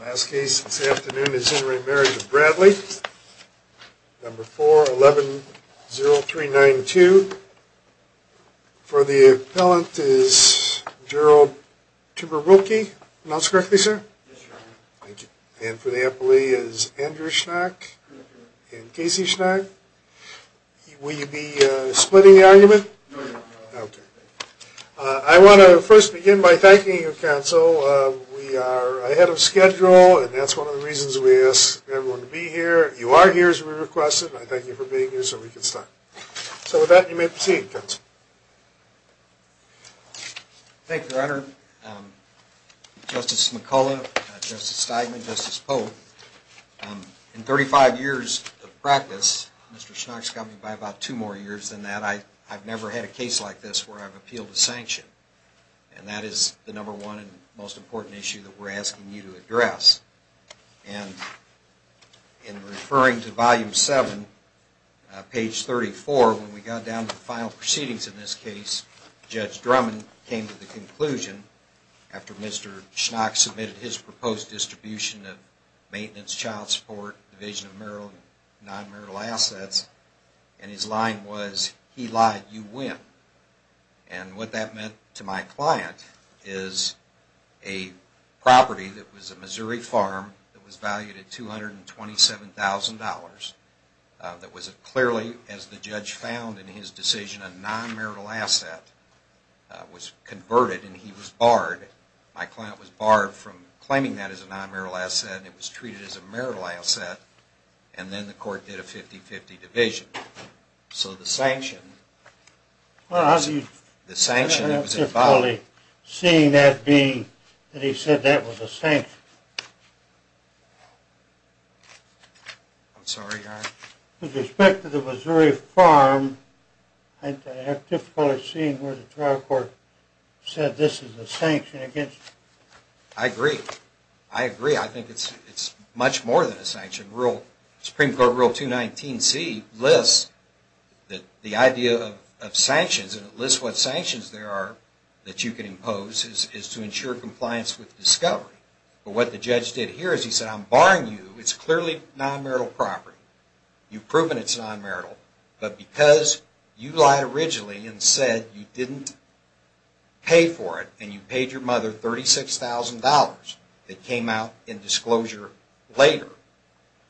Last case this afternoon is in re Marriage of Bradley, number 4110392. For the appellant is Gerald Tuberwilke. Announced correctly, sir? Yes, Your Honor. Thank you. And for the appellee is Andrew Schnack and Casey Schnack. Will you be splitting the argument? OK. I want to first begin by thanking you, counsel. We are ahead of schedule, and that's one of the reasons we asked everyone to be here. You are here, as we requested. I thank you for being here so we can start. So with that, you may proceed, counsel. Thank you, Your Honor. Justice McCullough, Justice Steigman, Justice Polk, in 35 years of practice, Mr. Schnack's got me by about two more years than that. I've never had a case like this where I've appealed a sanction. And that is the number one and most important issue that we're asking you to address. And in referring to volume 7, page 34, when we got down to the final proceedings in this case, Judge Drummond came to the conclusion, after Mr. Schnack submitted his proposed distribution of maintenance, child support, division of marital and non-marital assets, and his line was, he lied, you win. And what that meant to my client is a property that was a Missouri farm that was valued at $227,000 that was clearly, as the judge found in his decision, a non-marital asset, was converted, and he was barred. My client was barred from claiming that as a non-marital asset, and it was treated as a marital asset. And then the court did a 50-50 division. So the sanction, the sanction that was involved. Seeing that being that he said that was a sanction. I'm sorry, Your Honor? With respect to the Missouri farm, I have difficulty seeing where the trial court said this is a sanction against. I agree. I agree. I think it's much more than a sanction. Supreme Court Rule 219C lists that the idea of sanctions, and it lists what sanctions there are that you can impose, is to ensure compliance with discovery. But what the judge did here is he said, I'm barring you. It's clearly non-marital property. You've proven it's non-marital. But because you lied originally and said you didn't pay for it and you paid your mother $36,000 that came out in disclosure later,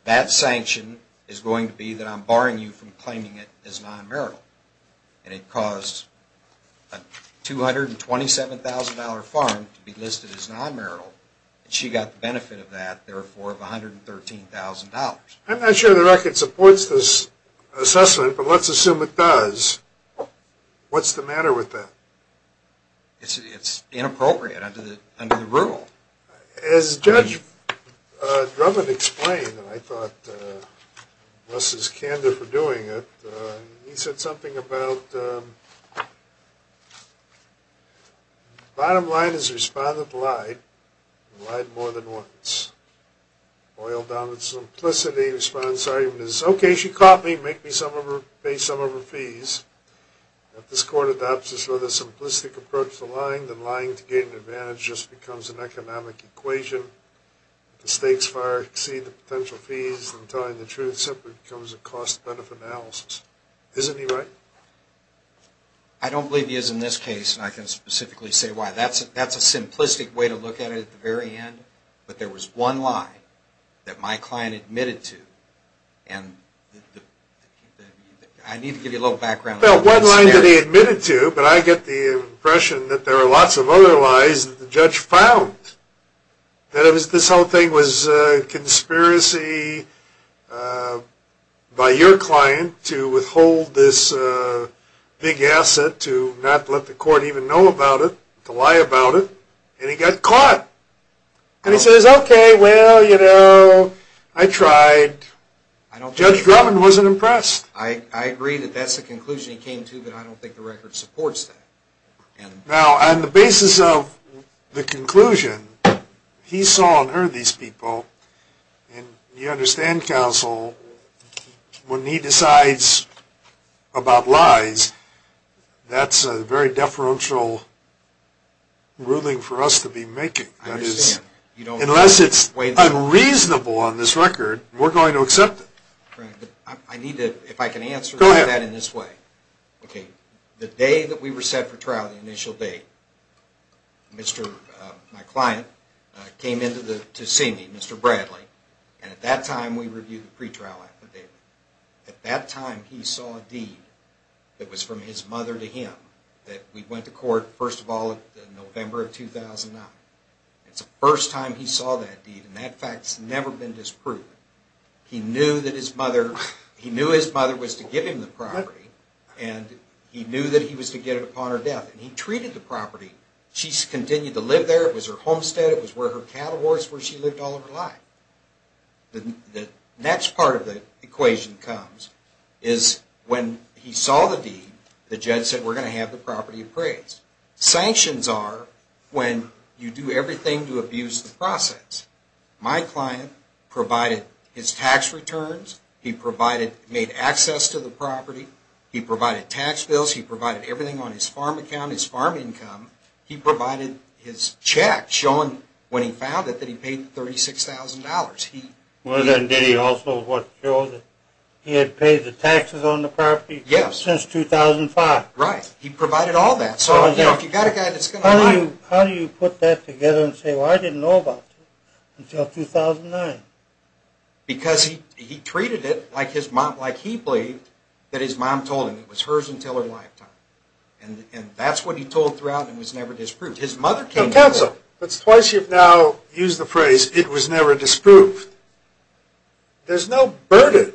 that sanction is going to be that I'm barring you from claiming it as non-marital. And it caused a $227,000 farm to be listed as non-marital. She got the benefit of that, therefore, of $113,000. I'm not sure the record supports this assessment, but let's assume it does. What's the matter with that? It's inappropriate under the rule. As Judge Drummond explained, and I thought less is candor for doing it, he said something about the bottom line is the respondent lied, and lied more than once. Boiled down to simplicity, the respondent's argument is, OK, she caught me. Make me pay some of her fees. If this court adopts this rather simplistic approach to lying, then lying to gain an advantage just becomes an economic equation. The stakes far exceed the potential fees, and telling the truth simply becomes a cost-benefit analysis. Isn't he right? I don't believe he is in this case, and I can specifically say why. That's a simplistic way to look at it at the very end, but there was one lie that my client admitted to, and I need to give you a little background. Well, one line that he admitted to, but I get the impression that there are lots of other lies that the judge found. That this whole thing was a conspiracy by your client to withhold this big asset, to not let the court even know about it, to lie about it, and he got caught. And he says, OK, well, you know, I tried. Judge Drummond wasn't impressed. I agree that that's the conclusion he came to, but I don't think the record supports that. Now, on the basis of the conclusion, he saw and heard these people, and you understand, counsel, when he decides about lies, that's a very deferential ruling for us to be making. Unless it's unreasonable on this record, we're going to accept it. If I can answer that in this way. OK, the day that we were set for trial, the initial day, my client came in to see me, Mr. Bradley, and at that time, we reviewed the pretrial affidavit. At that time, he saw a deed that was from his mother to him that we went to court, first of all, in November of 2009. It's the first time he saw that deed, and that fact's never been disproved. He knew that his mother was to give him the property, and he knew that he was to get it upon her death, and he treated the property. She continued to live there. It was her homestead. It was where her cattle was, where she lived all of her life. The next part of the equation comes is when he saw the deed, the judge said we're going to have the property appraised. Sanctions are when you do everything to abuse the process. My client provided his tax returns. He provided, made access to the property. He provided tax bills. He provided everything on his farm account, his farm income. He provided his check, showing when he found it, that he paid $36,000. Well, then did he also show that he had paid the taxes on the property since 2005? Right. He provided all that. So if you've got a guy that's going to buy it. How do you put that together and say, well, I didn't know about it until 2009? Because he treated it like he believed that his mom told him. It was hers until her lifetime. And that's what he told throughout and was never disproved. His mother came in. Counsel, it's twice you've now used the phrase, it was never disproved. There's no burden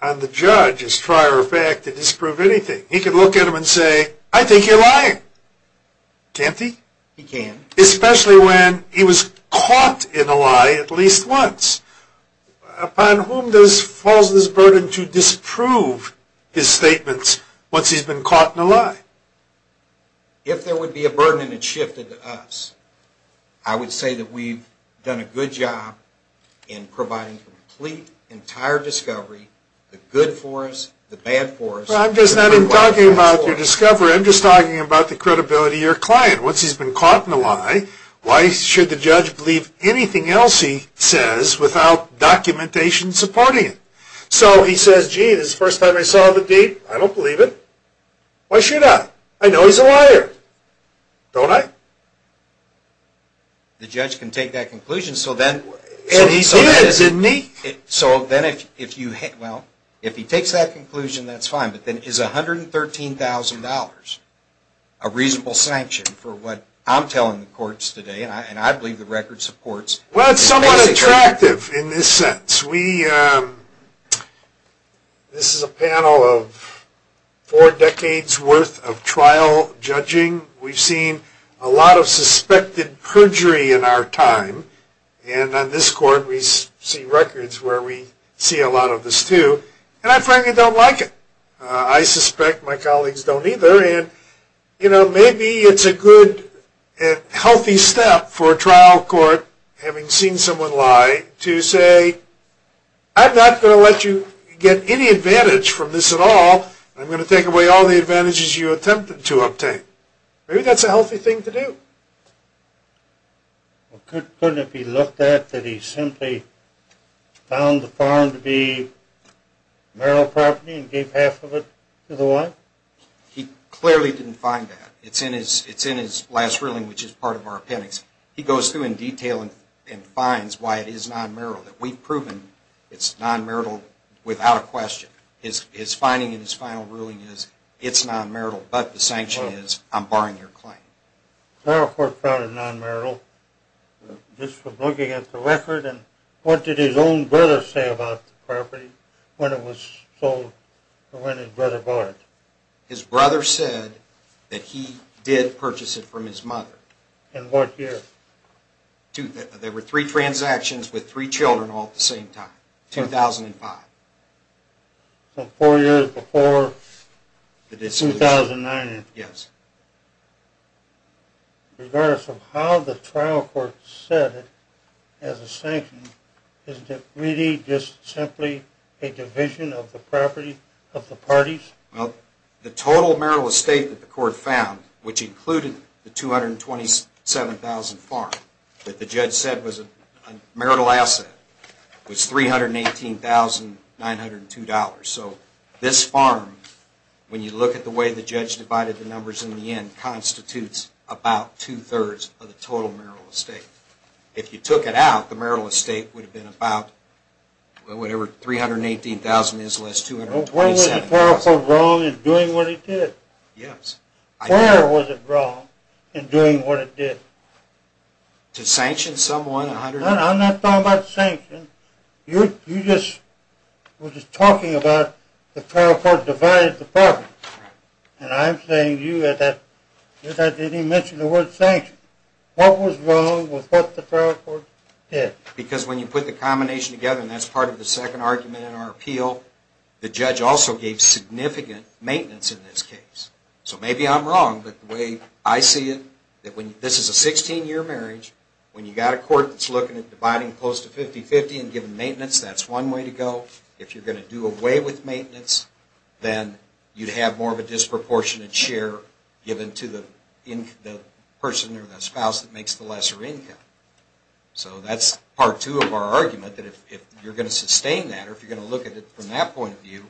on the judge, as a prior effect, to disprove anything. He could look at him and say, I think you're lying. Can't he? He can. Especially when he was caught in a lie at least once. Upon whom falls this burden to disprove his statements once he's been caught in a lie? If there would be a burden and it shifted to us, I would say that we've done a good job in providing complete, entire discovery, the good for us, the bad for us. Well, I'm just not even talking about your discovery. I'm just talking about the credibility of your client once he's been caught in a lie. Why should the judge believe anything else he says without documentation supporting it? So he says, gee, this is the first time I saw the deed. I don't believe it. Why should I? I know he's a liar. Don't I? The judge can take that conclusion. So then, so then if you, well, if he takes that conclusion, that's fine. But then is $113,000 a reasonable sanction for what I'm telling the courts today? And I believe the record supports. Well, it's somewhat attractive in this sense. We, this is a panel of four decades worth of trial judging. We've seen a lot of suspected perjury in our time. And on this court, we see records where we see a lot of this too. And I frankly don't like it. I suspect my colleagues don't either. And maybe it's a good, healthy step for a trial court, having seen someone lie, to say, I'm not going to let you get any advantage from this at all. I'm going to take away all the advantages you attempted to obtain. Maybe that's a healthy thing to do. Couldn't it be looked at that he simply found the farm to be marital property and gave half of it to the wife? He clearly didn't find that. It's in his last ruling, which is part of our appendix. He goes through in detail and finds why it is non-marital, that we've proven it's non-marital without a question. His finding in his final ruling is it's non-marital. But the sanction is, I'm barring your claim. Clarifort found it non-marital just from looking at the record. And what did his own brother say about the property when it was sold, or when his brother bought it? His brother said that he did purchase it from his mother. In what year? There were three transactions with three children all at the same time, 2005. So four years before 2009. Yes. Regardless of how the trial court said it as a sanction, isn't it really just simply a division of the property of the parties? Well, the total marital estate that the court found, which included the $227,000 farm that the judge said was a marital asset, was $318,902. So this farm, when you look at the way the judge divided the numbers in the end, constitutes about 2 thirds of the total marital estate. If you took it out, the marital estate would have been about, whatever, $318,000 minus $227,000. Well, where was the trial court wrong in doing what it did? Yes. Where was it wrong in doing what it did? To sanction someone? I'm not talking about sanction. You just were just talking about the trial court divided the property. And I'm saying to you that I didn't even mention the word sanction. What was wrong with what the trial court did? Because when you put the combination together, and that's part of the second argument in our appeal, the judge also gave significant maintenance in this case. So maybe I'm wrong, but the way I see it, that when this is a 16-year marriage, when you've got a court that's looking at dividing close to 50-50 and giving maintenance, that's one way to go. If you're going to do away with maintenance, then you'd have more of a disproportionate share given to the person or the spouse that makes the lesser income. So that's part two of our argument, that if you're going to sustain that, or if you're going to look at it from that point of view,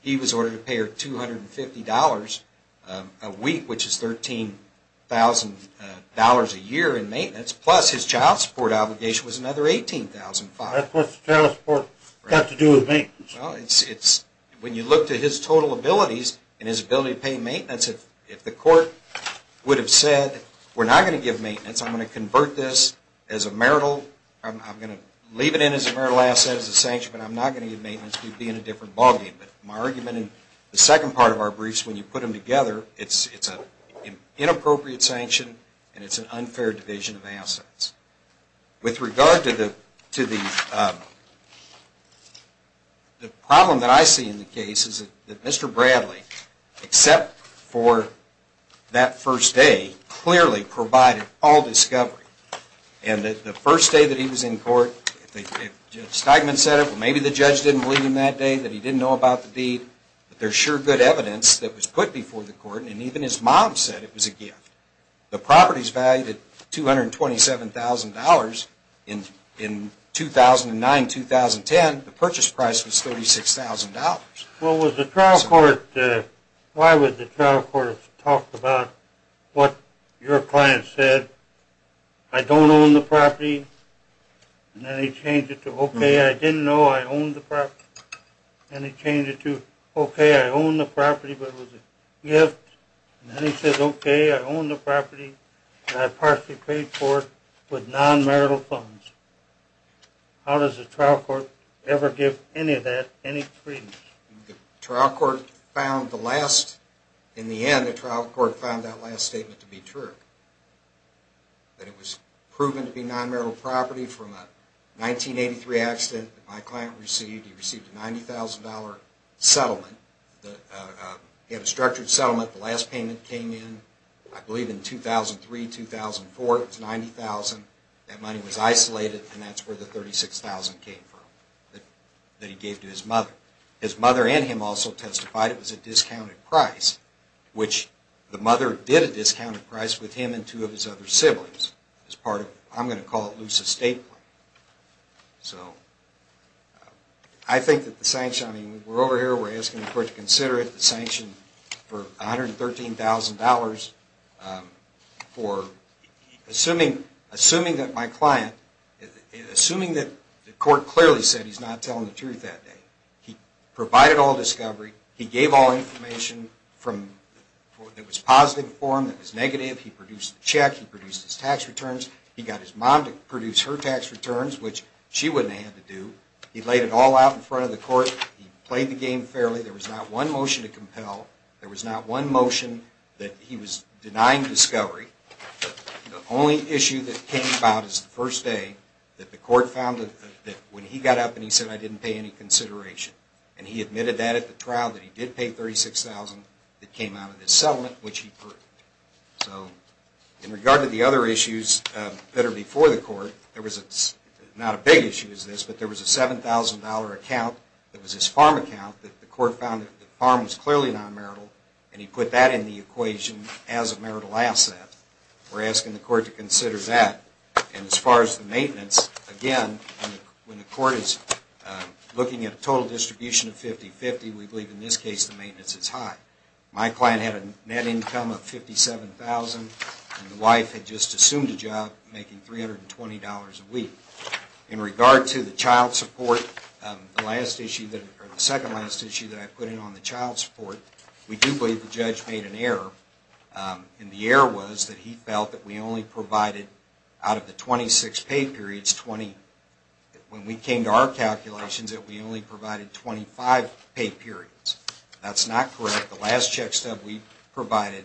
he was ordered to pay her $250 a week, which is $13,000 a year in maintenance, plus his child support obligation was another $18,500. That's what the child support got to do with maintenance. When you look to his total abilities and his ability to pay maintenance, if the court would have said, we're not going to give maintenance, I'm going to convert this as a marital, I'm going to leave it in as a marital asset as a sanction, but I'm not going to give maintenance, we'd be in a different ballgame. But my argument in the second part of our briefs, when you put them together, it's an inappropriate sanction, and it's an unfair division of assets. With regard to the problem that I see in the case that Mr. Bradley, except for that first day, clearly provided all discovery. And the first day that he was in court, Steigman said it, but maybe the judge didn't believe him that day, that he didn't know about the deed. There's sure good evidence that was put before the court, and even his mom said it was a gift. The property's valued at $227,000. In 2009, 2010, the purchase price was $36,000. Well, why would the trial court have talked about what your client said? I don't own the property. And then he changed it to, OK, I didn't know I owned the property. And he changed it to, OK, I own the property, but it was a gift. And then he says, OK, I own the property, and I partially paid for it with non-marital funds. How does the trial court ever give any of that any credence? The trial court found the last, in the end, the trial court found that last statement to be true, that it was proven to be non-marital property from a 1983 accident that my client received. He received a $90,000 settlement. He had a structured settlement. The last payment came in, I believe, in 2003, 2004. It was $90,000. That money was isolated, and that's where the $36,000 came from that he gave to his mother. His mother and him also testified it was a discounted price, which the mother did a discounted price with him and two of his other siblings as part of, I'm going to call it, loose estate. So I think that the sanction, I mean, we're over here. We're asking the court to consider it, the sanction for $113,000 for assuming that my client, assuming that the court clearly said he's not telling the truth that day. He provided all discovery. He gave all information that was positive for him, that was negative. He produced the check. He produced his tax returns. He got his mom to produce her tax returns, which she wouldn't have had to do. He laid it all out in front of the court. He played the game fairly. There was not one motion to compel. There was not one motion that he was denying discovery. The only issue that came about is the first day that the court found that when he got up and he said, I didn't pay any consideration, and he admitted that at the trial, that he did pay $36,000 that came out of his settlement, which he purged. So in regard to the other issues that are before the court, there was not a big issue as this, but there was a $7,000 account that was his farm account that the court found that the farm was clearly non-marital, and he put that in the equation as a marital asset. We're asking the court to consider that. And as far as the maintenance, again, when the court is looking at a total distribution of 50-50, we believe in this case the maintenance is high. My client had a net income of $57,000, and the wife had just assumed a job making $320 a week. In regard to the child support, the last issue or the second last issue that I put in on the child support, we do believe the judge made an error. And the error was that he felt that we only provided, out of the 26 pay periods, 20. When we came to our calculations, that we only provided 25 pay periods. That's not correct. The last check stub we provided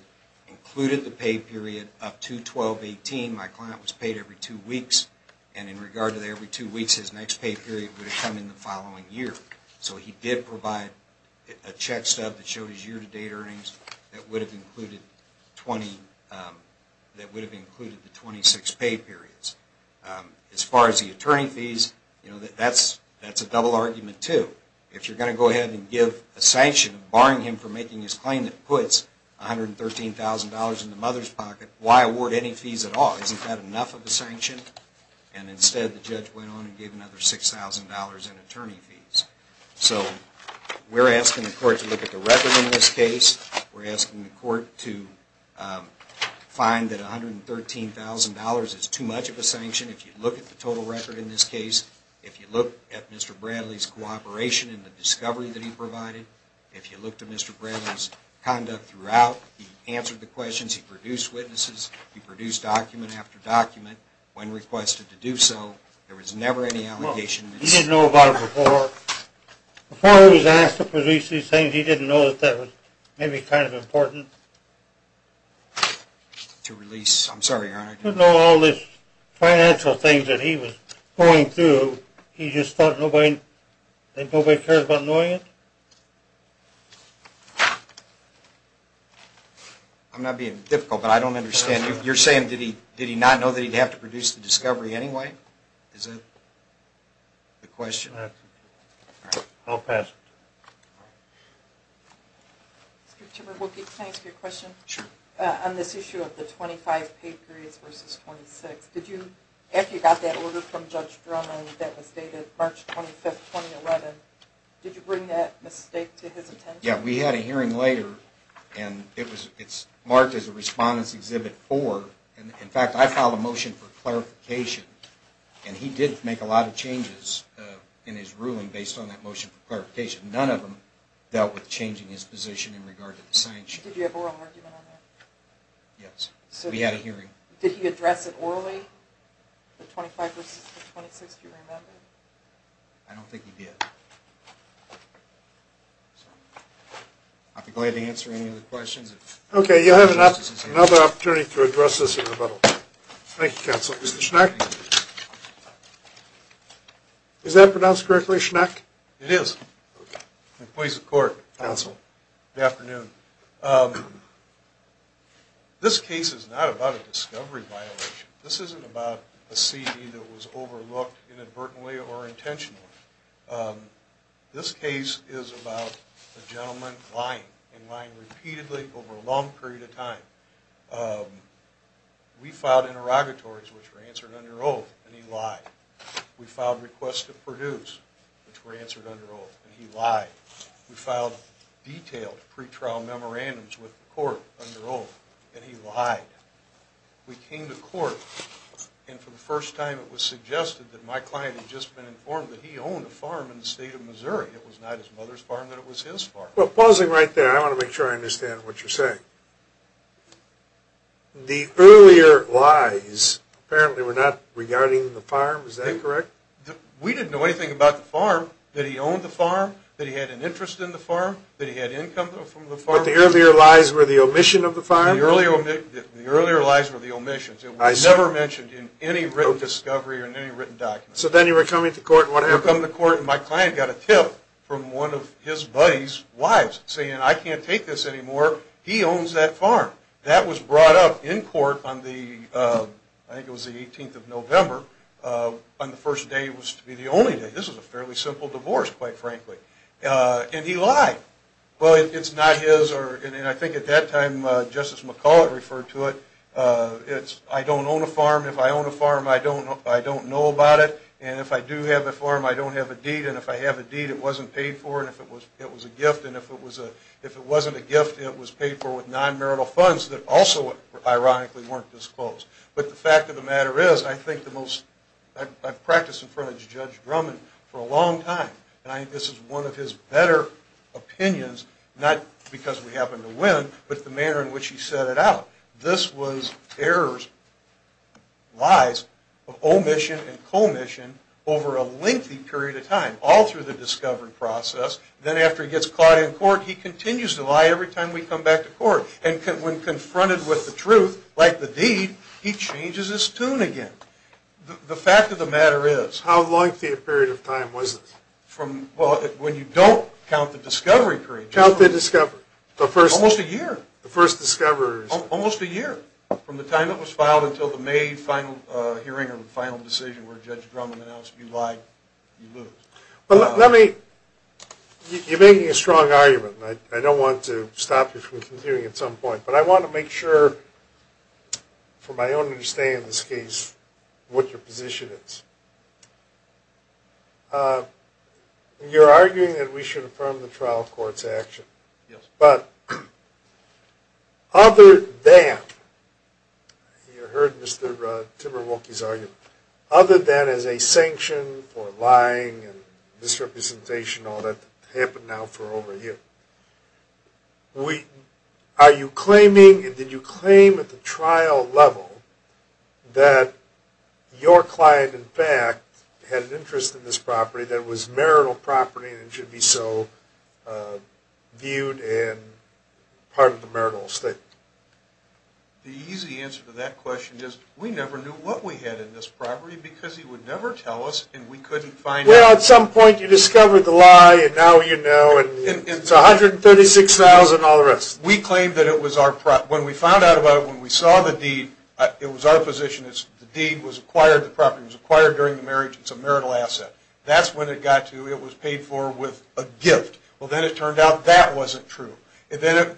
included the pay period up to 12-18. My client was paid every two weeks. And in regard to the every two weeks, his next pay period would have come in the following year. So he did provide a check stub that showed his year-to-date earnings that would have included the 26 pay periods. As far as the attorney fees, that's a double argument, too. If you're going to go ahead and give a sanction barring him from making his claim that puts $113,000 in the mother's pocket, why award any fees at all? Isn't that enough of a sanction? And instead, the judge went on and gave another $6,000 in attorney fees. So we're asking the court to look at the record in this case. We're asking the court to find that $113,000 is too much of a sanction. If you look at the total record in this case, if you look at Mr. Bradley's cooperation in the discovery that he provided, if you look to Mr. Bradley's conduct throughout, he answered the questions, he produced witnesses, he produced document after document. When requested to do so, there was never any allegation. Well, he didn't know about it before. Before he was asked to produce these things, he didn't know that that was maybe kind of important. To release? I'm sorry, Your Honor. He didn't know all these financial things that he was going through. He just thought nobody cared about knowing it? I'm not being difficult, but I don't understand. You're saying, did he not know that he'd have to produce the discovery anyway? Is that the question? I'll pass. Mr. Chairman, can I ask you a question? Sure. On this issue of the 25 paid periods versus 26, after you got that order from Judge Drummond that was dated March 25, 2011, did you bring that mistake to his attention? Yeah, we had a hearing later, and it In fact, I filed a motion for clarification, and he did make a lot of changes in his ruling based on that motion for clarification. None of them dealt with changing his position in regard to the sanctions. Did you have an oral argument on that? Yes, we had a hearing. Did he address it orally, the 25 versus the 26? Do you remember? I don't think he did. I'd be glad to answer any other questions. OK, you'll have another opportunity to address this in rebuttal. Thank you, counsel. Mr. Schneck? Is that pronounced correctly, Schneck? It is. Employees of court, counsel, good afternoon. This case is not about a discovery violation. This isn't about a CD that was overlooked inadvertently or intentionally. This case is about a gentleman lying, and lying repeatedly over a long period of time. We filed interrogatories, which were answered under oath, and he lied. We filed requests to produce, which were answered under oath, and he lied. We filed detailed pretrial memorandums with the court under oath, and he lied. We came to court, and for the first time, it was suggested that my client had just been informed that he owned a farm in the state of Missouri. It was not his mother's farm, but it was his farm. Well, pausing right there, I want to make sure I understand what you're saying. The earlier lies apparently were not regarding the farm. Is that correct? We didn't know anything about the farm, that he owned the farm, that he had an interest in the farm, that he had income from the farm. But the earlier lies were the omission of the farm? The earlier lies were the omissions. It was never mentioned in any written discovery or in any written document. So then you were coming to court, and what happened? I come to court, and my client got a tip from one of his buddy's wives, saying, I can't take this anymore. He owns that farm. That was brought up in court on the, I think it was the 18th of November. On the first day, it was to be the only day. This was a fairly simple divorce, quite frankly. And he lied. Well, it's not his, and I think at that time, Justice McCulloch referred to it. I don't own a farm. If I own a farm, I don't know about it. And if I do have a farm, I don't have a deed. And if I have a deed, it wasn't paid for. And if it was, it was a gift. And if it wasn't a gift, it was paid for with non-marital funds that also, ironically, weren't disclosed. But the fact of the matter is, I think the most, I've practiced in front of Judge Drummond for a long time. And I think this is one of his better opinions, not because we happened to win, but the manner in which he set it out. This was errors, lies, of omission and commission over a lengthy period of time. All through the discovery process. Then after he gets caught in court, he continues to lie every time we come back to court. And when confronted with the truth, like the deed, he changes his tune again. The fact of the matter is. How lengthy a period of time was this? When you don't count the discovery period. Count the discovery. The first. Almost a year. The first discovery. Almost a year. From the time it was filed until the May final hearing and the final decision where Judge Drummond announced, you lied, you lose. Well, let me. You're making a strong argument. I don't want to stop you from conceding at some point. But I want to make sure, for my own understanding of this case, what your position is. You're arguing that we should affirm the trial court's action. But other than, you heard Mr. Timberwolke's argument. Other than as a sanction for lying and misrepresentation, all that happened now for over a year. Did you claim at the trial level that your client, in fact, had an interest in this property that was marital property and should be so viewed and part of the marital estate? The easy answer to that question is, we never knew what we had in this property because he would never tell us. And we couldn't find out. Well, at some point, you discovered the lie. And now you know. And it's $136,000 and all the rest. We claimed that it was our property. When we found out about it, when we saw the deed, it was our position. The deed was acquired, the property was acquired during the marriage. It's a marital asset. That's when it got to. It was paid for with a gift. Well, then it turned out that wasn't true. Then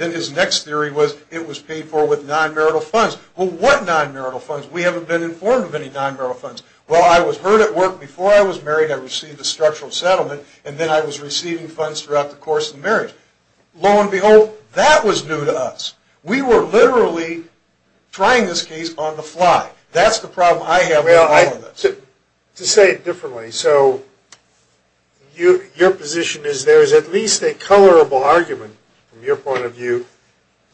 his next theory was, it was paid for with non-marital funds. Well, what non-marital funds? We haven't been informed of any non-marital funds. Well, I was heard at work. Before I was married, I received a structural settlement. And then I was receiving funds throughout the course of the marriage. Lo and behold, that was new to us. We were literally trying this case on the fly. That's the problem I have with all of this. To say it differently, so your position is there is at least a colorable argument from your point of view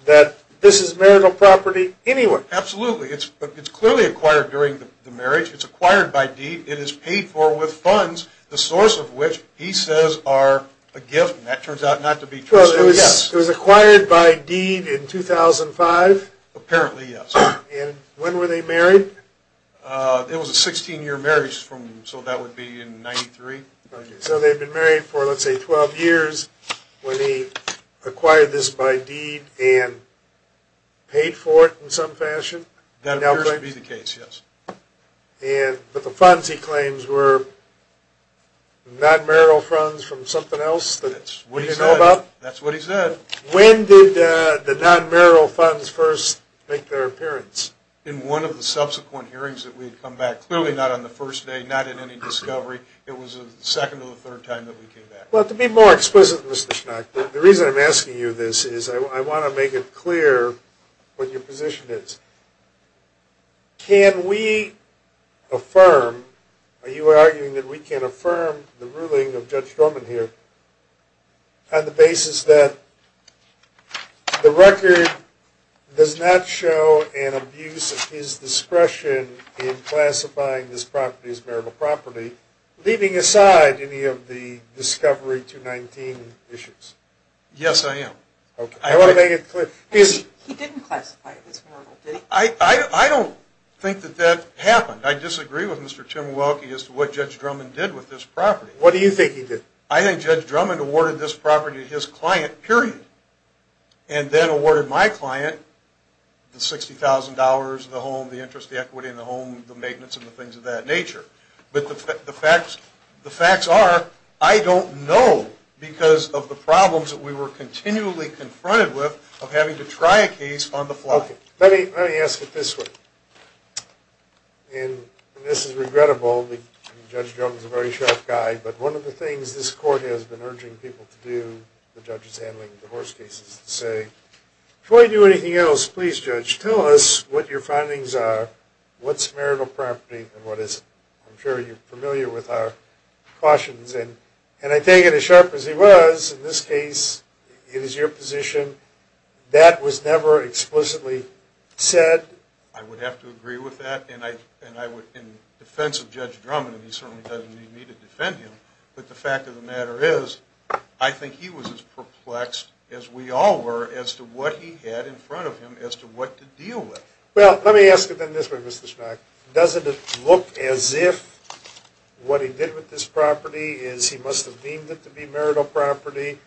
that this is marital property anyway. Absolutely. It's clearly acquired during the marriage. It's acquired by deed. It is paid for with funds, the source of which he says are a gift. And that turns out not to be true. It was acquired by deed in 2005? Apparently, yes. And when were they married? It was a 16-year marriage. So that would be in 93. So they've been married for, let's say, 12 years when he acquired this by deed and paid for it in some fashion? That appears to be the case, yes. But the funds, he claims, were non-marital funds from something else that we didn't know about? That's what he said. When did the non-marital funds first make their appearance? In one of the subsequent hearings that we had come back. Clearly not on the first day, not in any discovery. It was the second or the third time that we came back. Well, to be more explicit, Mr. Schnack, the reason I'm asking you this is I want to make it clear what your position is. Can we affirm, are you arguing that we can affirm the ruling of Judge Stroman here on the basis that the record does not show an abuse of his discretion in classifying this property as marital property, leaving aside any of the discovery 219 issues? Yes, I am. I want to make it clear. He didn't classify it as marital, did he? I don't think that that happened. I disagree with Mr. Tim Welke as to what Judge Stroman did with this property. What do you think he did? I think Judge Stroman awarded this property to his client, period. And then awarded my client the $60,000, the home, the interest, the equity, and the home, the maintenance, and the things of that nature. But the facts are, I don't know because of the problems that we were continually confronted with of having to try a case on the fly. Let me ask it this way. And this is regrettable. Judge Stroman's a very sharp guy. But one of the things this court has been urging people to do, the judges handling divorce cases, is to say, before you do anything else, please, judge, tell us what your findings are, what's marital property, and what isn't. I'm sure you're familiar with our cautions. And I take it as sharp as he was, in this case, it is your position. That was never explicitly said. I would have to agree with that. And in defense of Judge Stroman, and he certainly doesn't need me to defend him, but the fact of the matter is, I think he was as perplexed as we all were as to what he had in front of him as to what to deal with. Well, let me ask it then this way, Mr. Schmack. Doesn't it look as if what he did with this property is he must have deemed it to be marital property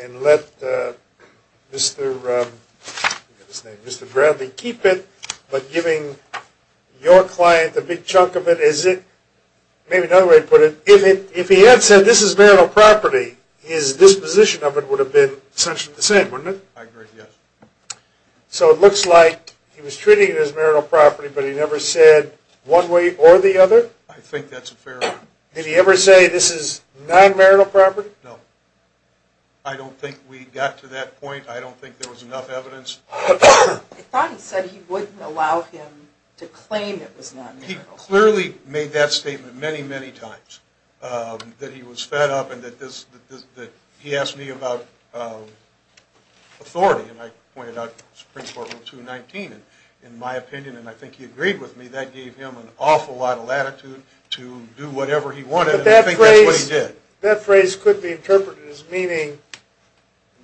and let Mr. Bradley keep it? But giving your client a big chunk of it, maybe another way to put it, if he had said, this is marital property, his disposition of it would have been essentially the same, wouldn't it? I agree, yes. So it looks like he was treating it as marital property, but he never said one way or the other? I think that's a fair argument. Did he ever say, this is non-marital property? No. I don't think we got to that point. I don't think there was enough evidence. I thought he said he wouldn't allow him to claim it was non-marital. He clearly made that statement many, many times, that he was fed up and that he asked me about authority. And I pointed out Supreme Court Rule 219, in my opinion. And I think he agreed with me. That gave him an awful lot of latitude to do whatever he wanted. And I think that's what he did. That phrase could be interpreted as meaning,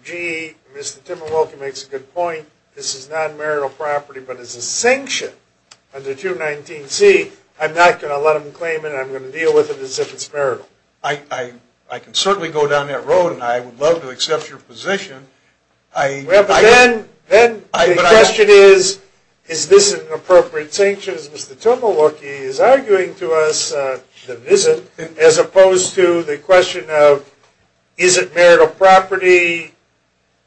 gee, Mr. Timberwolke makes a good point. This is non-marital property, but it's sanctioned under 219C. I'm not going to let him claim it. I'm going to deal with it as if it's marital. I can certainly go down that road, and I would love to accept your position. Well, but then the question is, is this an appropriate sanction? Mr. Timberwolke is arguing to us that it isn't, as opposed to the question of, is it marital property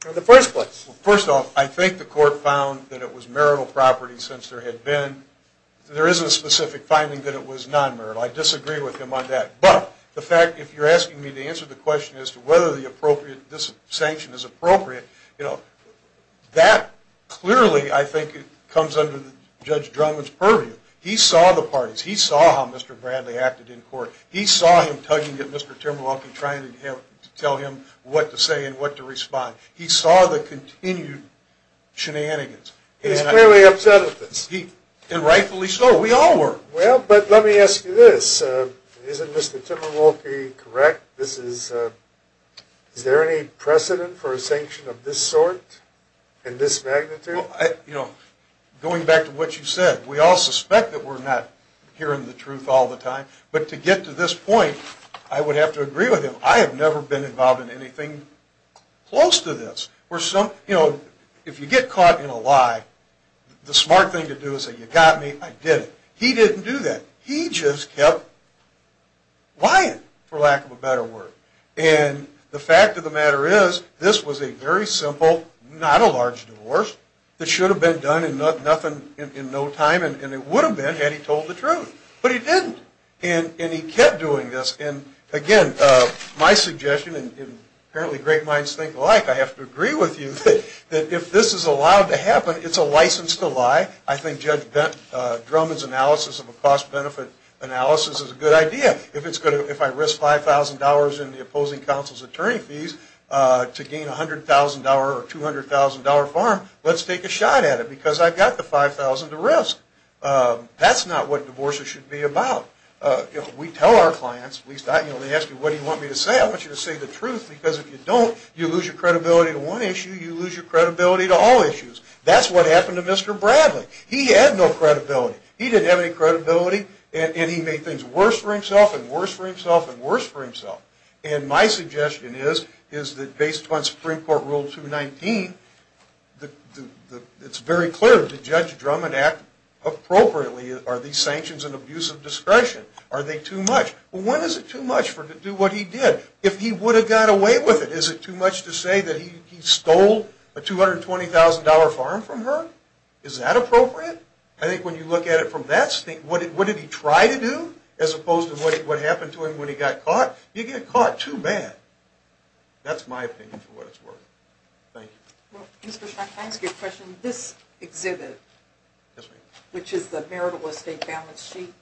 in the first place? First off, I think the court found that it was marital property since there had been. There is a specific finding that it was non-marital. I disagree with him on that. But the fact, if you're asking me to answer the question as to whether this sanction is appropriate, that clearly, I think, comes under Judge Drummond's purview. He saw the parties. He saw how Mr. Bradley acted in court. He saw him tugging at Mr. Timberwolke, trying to tell him what to say and what to respond. He saw the continued shenanigans. He's clearly upset at this. And rightfully so. We all were. Well, but let me ask you this. Isn't Mr. Timberwolke correct? Is there any precedent for a sanction of this sort in this magnitude? Going back to what you said, we all suspect that we're not hearing the truth all the time. But to get to this point, I would have to agree with him. I have never been involved in anything close to this. If you get caught in a lie, the smart thing to do is say, you got me, I did it. He didn't do that. He just kept lying, for lack of a better word. And the fact of the matter is, this was a very simple, not a large divorce, that should have been done in no time. And it would have been, had he told the truth. But he didn't. And he kept doing this. And again, my suggestion, and apparently great minds think alike, I have to agree with you that if this is allowed to happen, it's a licensed lie. I think Judge Drummond's analysis of a cost-benefit analysis is a good idea. If I risk $5,000 in the opposing counsel's attorney fees to gain $100,000 or $200,000 farm, let's take a shot at it, because I've got the $5,000 to risk. That's not what divorces should be about. We tell our clients, at least I do when they ask me, what do you want me to say? I want you to say the truth, because if you don't, you lose your credibility to one issue. You lose your credibility to all issues. That's what happened to Mr. Bradley. He had no credibility. He didn't have any credibility. And he made things worse for himself, and worse for himself, and worse for himself. And my suggestion is that based on Supreme Court Rule 219, it's very clear that Judge Drummond acted appropriately Are these sanctions an abuse of discretion? Are they too much? Well, when is it too much for him to do what he did? If he would have got away with it, is it too much to say that he stole a $220,000 farm from her? Is that appropriate? I think when you look at it from that standpoint, what did he try to do, as opposed to what happened to him when he got caught? You get caught too bad. That's my opinion for what it's worth. Thank you. Mr. Frank, I ask you a question. This exhibit, which is the marital estate balance sheet,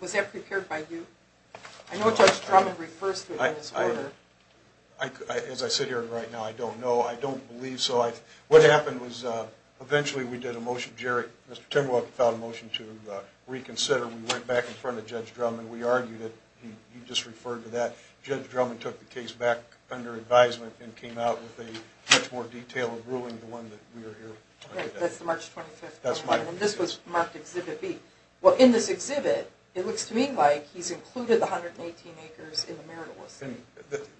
was that prepared by you? I know Judge Drummond refers to it in his order. As I sit here right now, I don't know. I don't believe so. What happened was, eventually, we did a motion. Jerry, Mr. Timwell filed a motion to reconsider. We went back in front of Judge Drummond. We argued it. He just referred to that. Judge Drummond took the case back under advisement and came out with a much more detailed ruling than the one that we are here on today. That's the March 25th one. That's my opinion. And this was marked Exhibit B. Well, in this exhibit, it looks to me like he's included the 118 acres in the marital estate.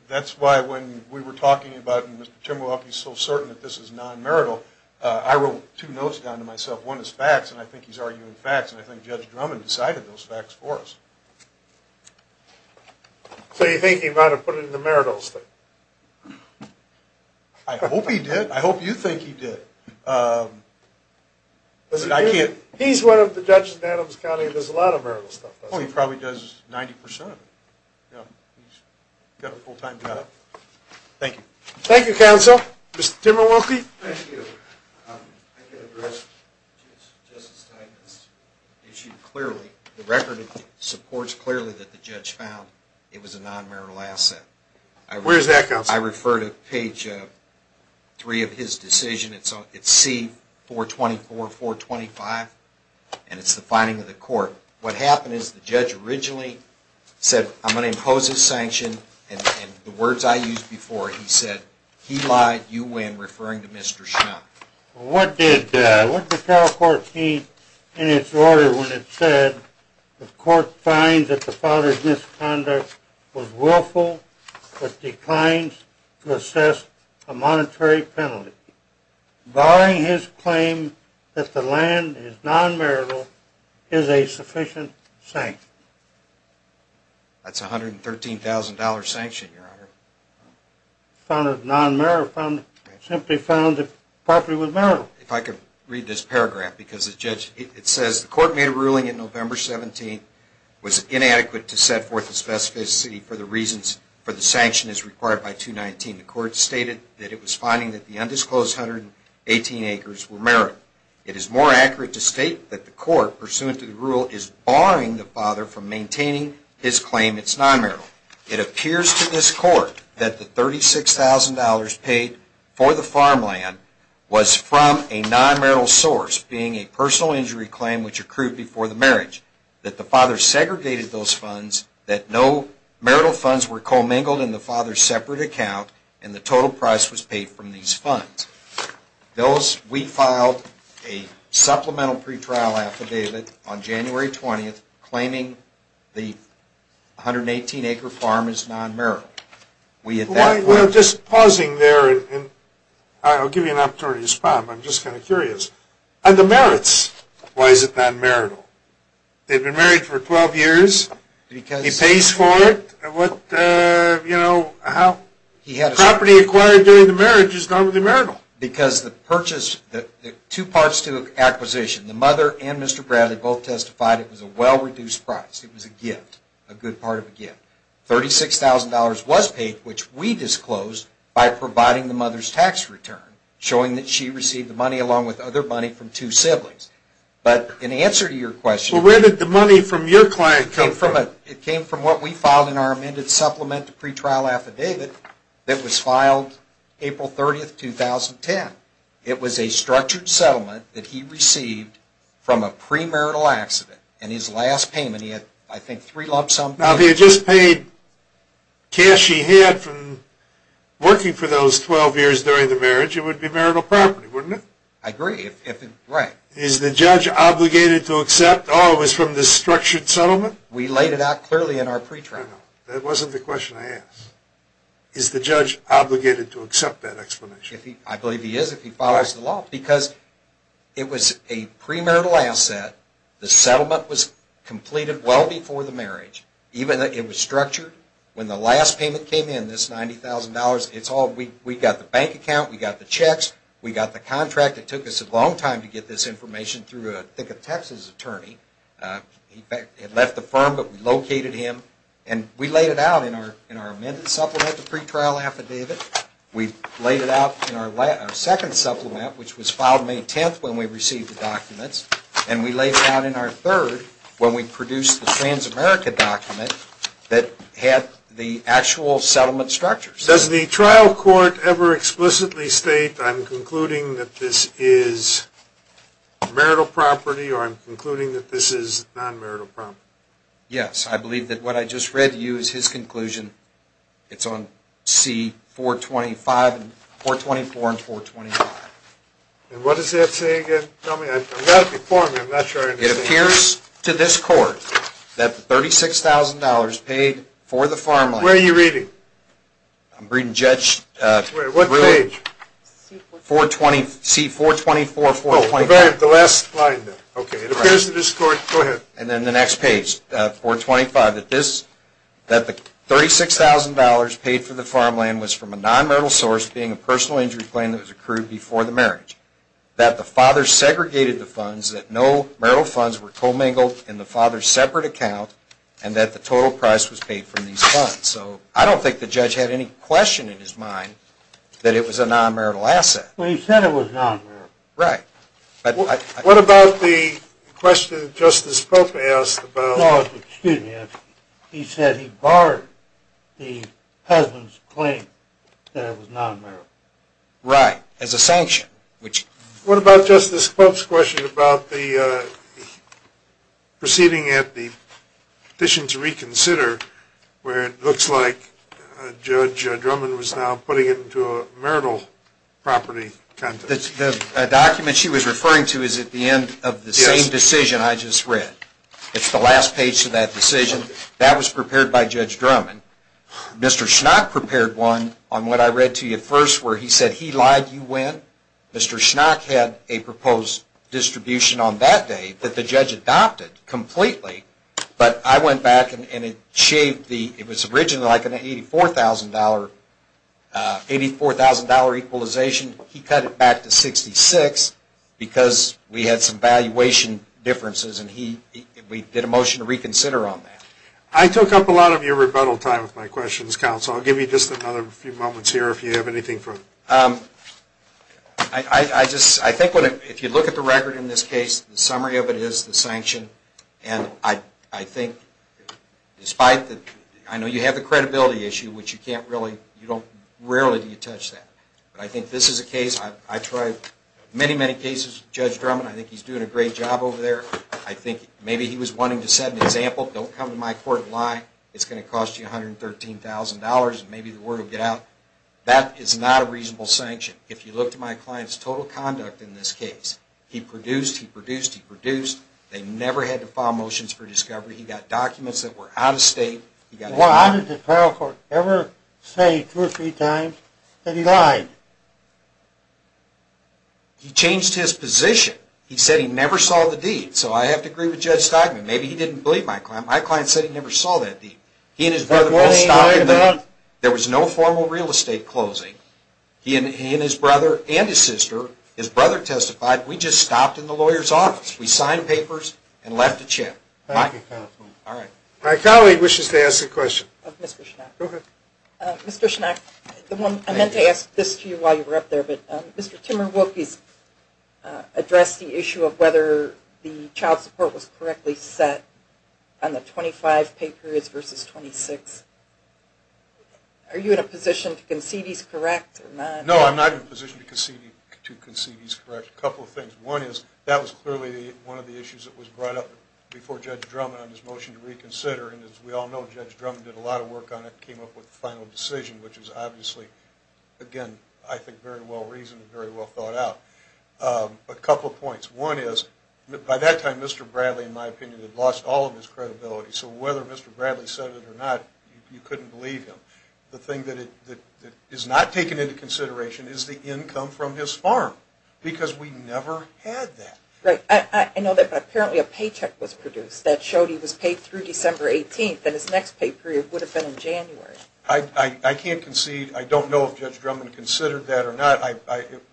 That's why, when we were talking about it, and Mr. Timwell is so certain that this is non-marital, I wrote two notes down to myself. One is facts, and I think he's arguing facts. And I think Judge Drummond decided those facts for us. So you think he might have put it in the marital estate? I hope he did. I hope you think he did. But I can't. He's one of the judges in Adams County and does a lot of marital stuff, doesn't he? Oh, he probably does 90% of it. Yeah, he's got a full-time job. Thank you. Thank you, counsel. Mr. Timwell, we'll keep. Thank you. I can address Justice Steinman's issue clearly. The record supports clearly that the judge found it was a non-marital asset. Where is that, counsel? I refer to page three of his decision. It's C-424, 425, and it's the finding of the court. What happened is the judge originally said, I'm going to impose this sanction. And the words I used before, he said, he lied, you win, referring to Mr. Schnapp. What did the trial court mean in its order when it said the court finds that the father's misconduct was assessed a monetary penalty, barring his claim that the land is non-marital, is a sufficient sanction? That's $113,000 sanction, Your Honor. Found it non-marital, found it, simply found it property with marital. If I could read this paragraph, because the judge, it says the court made a ruling in November 17, was inadequate to set forth the specificity for the reasons for the sanction as required by 219. The court stated that it was finding that the undisclosed 118 acres were marital. It is more accurate to state that the court, pursuant to the rule, is barring the father from maintaining his claim it's non-marital. It appears to this court that the $36,000 paid for the farmland was from a non-marital source, being a personal injury claim which accrued before the marriage, that the father segregated those funds, that no marital funds were commingled in the father's separate account, and the total price was paid from these funds. We filed a supplemental pretrial affidavit on January 20, claiming the 118 acre farm is non-marital. We at that point. We're just pausing there, and I'll give you an opportunity to respond. I'm just kind of curious. On the merits, why is it non-marital? They've been married for 12 years. He pays for it. What, you know, how? He had a property acquired during the marriage is not marital. Because the purchase, the two parts to the acquisition, the mother and Mr. Bradley both testified it was a well-reduced price. It was a gift, a good part of a gift. $36,000 was paid, which we disclosed, by providing the mother's tax return, showing that she received the money along with other money from two siblings. But in answer to your question. Well, where did the money from your client come from? It came from what we filed in our amended supplemental pretrial affidavit that was filed April 30, 2010. It was a structured settlement that he received from a premarital accident. And his last payment, he had, I think, three lump sum. Now, if he had just paid cash he had from working for those 12 years during the marriage, it would be marital property, wouldn't it? I agree. Right. Is the judge obligated to accept, oh, it was from the structured settlement? We laid it out clearly in our pretrial. That wasn't the question I asked. Is the judge obligated to accept that explanation? I believe he is if he follows the law. Because it was a premarital asset, the settlement was completed well before the marriage. Even though it was structured, when the last payment came in, this $90,000, we got the bank account, we got the checks, we got the contract. It took us a long time to get this information through, I think, a Texas attorney. He had left the firm, but we located him. And we laid it out in our amended supplement, the pretrial affidavit. We laid it out in our second supplement, which was filed May 10 when we received the documents. And we laid it out in our third when we produced the trans-America document that had the actual settlement structures. Does the trial court ever explicitly state, I'm concluding that this is marital property, or I'm concluding that this is non-marital property? Yes, I believe that what I just read to you is his conclusion. It's on C-424 and 425. And what does that say again? Tell me, I've got it before me. I'm not sure I understand. It appears to this court that $36,000 paid for the farmland. Where are you reading? I'm reading Judge Willett. What page? C-424, 425. Oh, the last line there. OK, it appears to this court, go ahead. And then the next page, 425, that the $36,000 paid for the farmland was from a non-marital source, being a personal injury claim that was accrued before the marriage. That the father segregated the funds, that no marital funds were commingled in the father's separate account, and that the total price was paid from these funds. So I don't think the judge had any question in his mind that it was a non-marital asset. Well, he said it was non-marital. Right. What about the question that Justice Pope asked about? No, excuse me. He said he barred the husband's claim that it was non-marital. Right, as a sanction. What about Justice Pope's question about the proceeding at the petition to reconsider, where it looks like Judge Drummond was now putting it into a marital property context? The document she was referring to is at the end of the same decision I just read. It's the last page to that decision. That was prepared by Judge Drummond. Mr. Schnock prepared one on what I read to you first, where he said he lied, you win. Mr. Schnock had a proposed distribution on that day that the judge adopted completely. But I went back and it shaved the, it was originally like an $84,000 equalization. He cut it back to $66,000 because we had some valuation differences. And we did a motion to reconsider on that. I took up a lot of your rebuttal time with my questions, counsel. I'll give you just another few moments here if you have anything further. I just, I think if you look at the record in this case, the summary of it is the sanction. And I think despite the, I know you have the credibility issue, which you can't really, you don't, rarely do you touch that. But I think this is a case, I tried many, many cases with Judge Drummond. I think he's doing a great job over there. I think maybe he was wanting to set an example. Don't come to my court and lie. It's going to cost you $113,000 and maybe the word will get out. That is not a reasonable sanction. If you look to my client's total conduct in this case, he produced, he produced, he produced. They never had to file motions for discovery. He got documents that were out of state. He got a warrant. Why did the federal court ever say two or three times that he lied? He changed his position. He said he never saw the deed. So I have to agree with Judge Stockman. Maybe he didn't believe my client. My client said he never saw that deed. He and his brother both stopped him. There was no formal real estate closing. He and his brother and his sister, his brother testified. We just stopped in the lawyer's office. We signed papers and left the chair. Thank you, counsel. All right. My colleague wishes to ask a question. Of Mr. Schnack. Mr. Schnack, I meant to ask this to you while you were up there, but Mr. Timmerwolke has addressed the issue of whether the child support was correctly set on the 25 pay periods versus 26. Are you in a position to concede he's correct or not? No, I'm not in a position to concede he's correct. A couple of things. One is, that was clearly one of the issues that was brought up before Judge Drummond on his motion to reconsider. And as we all know, Judge Drummond did a lot of work on it and came up with the final decision, which is obviously, again, I think very well-reasoned and very well thought out. A couple of points. One is, by that time, Mr. Bradley, in my opinion, had lost all of his credibility. So whether Mr. Bradley said it or not, you couldn't believe him. The thing that is not taken into consideration is the income from his farm, because we never had that. Right. I know that, but apparently a paycheck was produced that showed he was paid through December 18th, and his next pay period would have been in January. I can't concede. I don't know if Judge Drummond considered that or not.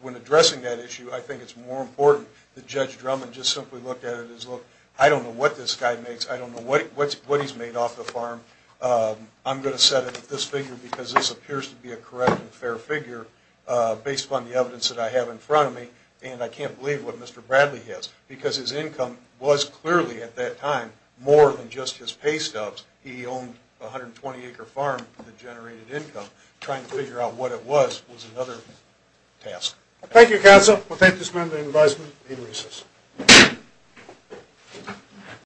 When addressing that issue, I think it's more important that Judge Drummond just simply looked at it as, look, I don't know what this guy makes. I don't know what he's made off the farm. I'm going to set it at this figure, because this appears to be a correct and fair figure, based upon the evidence that I have in front of me. And I can't believe what Mr. Bradley has, because his income was clearly, at that time, more than just his pay stubs. He owned a 120-acre farm that generated income. Trying to figure out what it was was another task. Thank you, counsel. We'll thank this member in advisement. Need recess.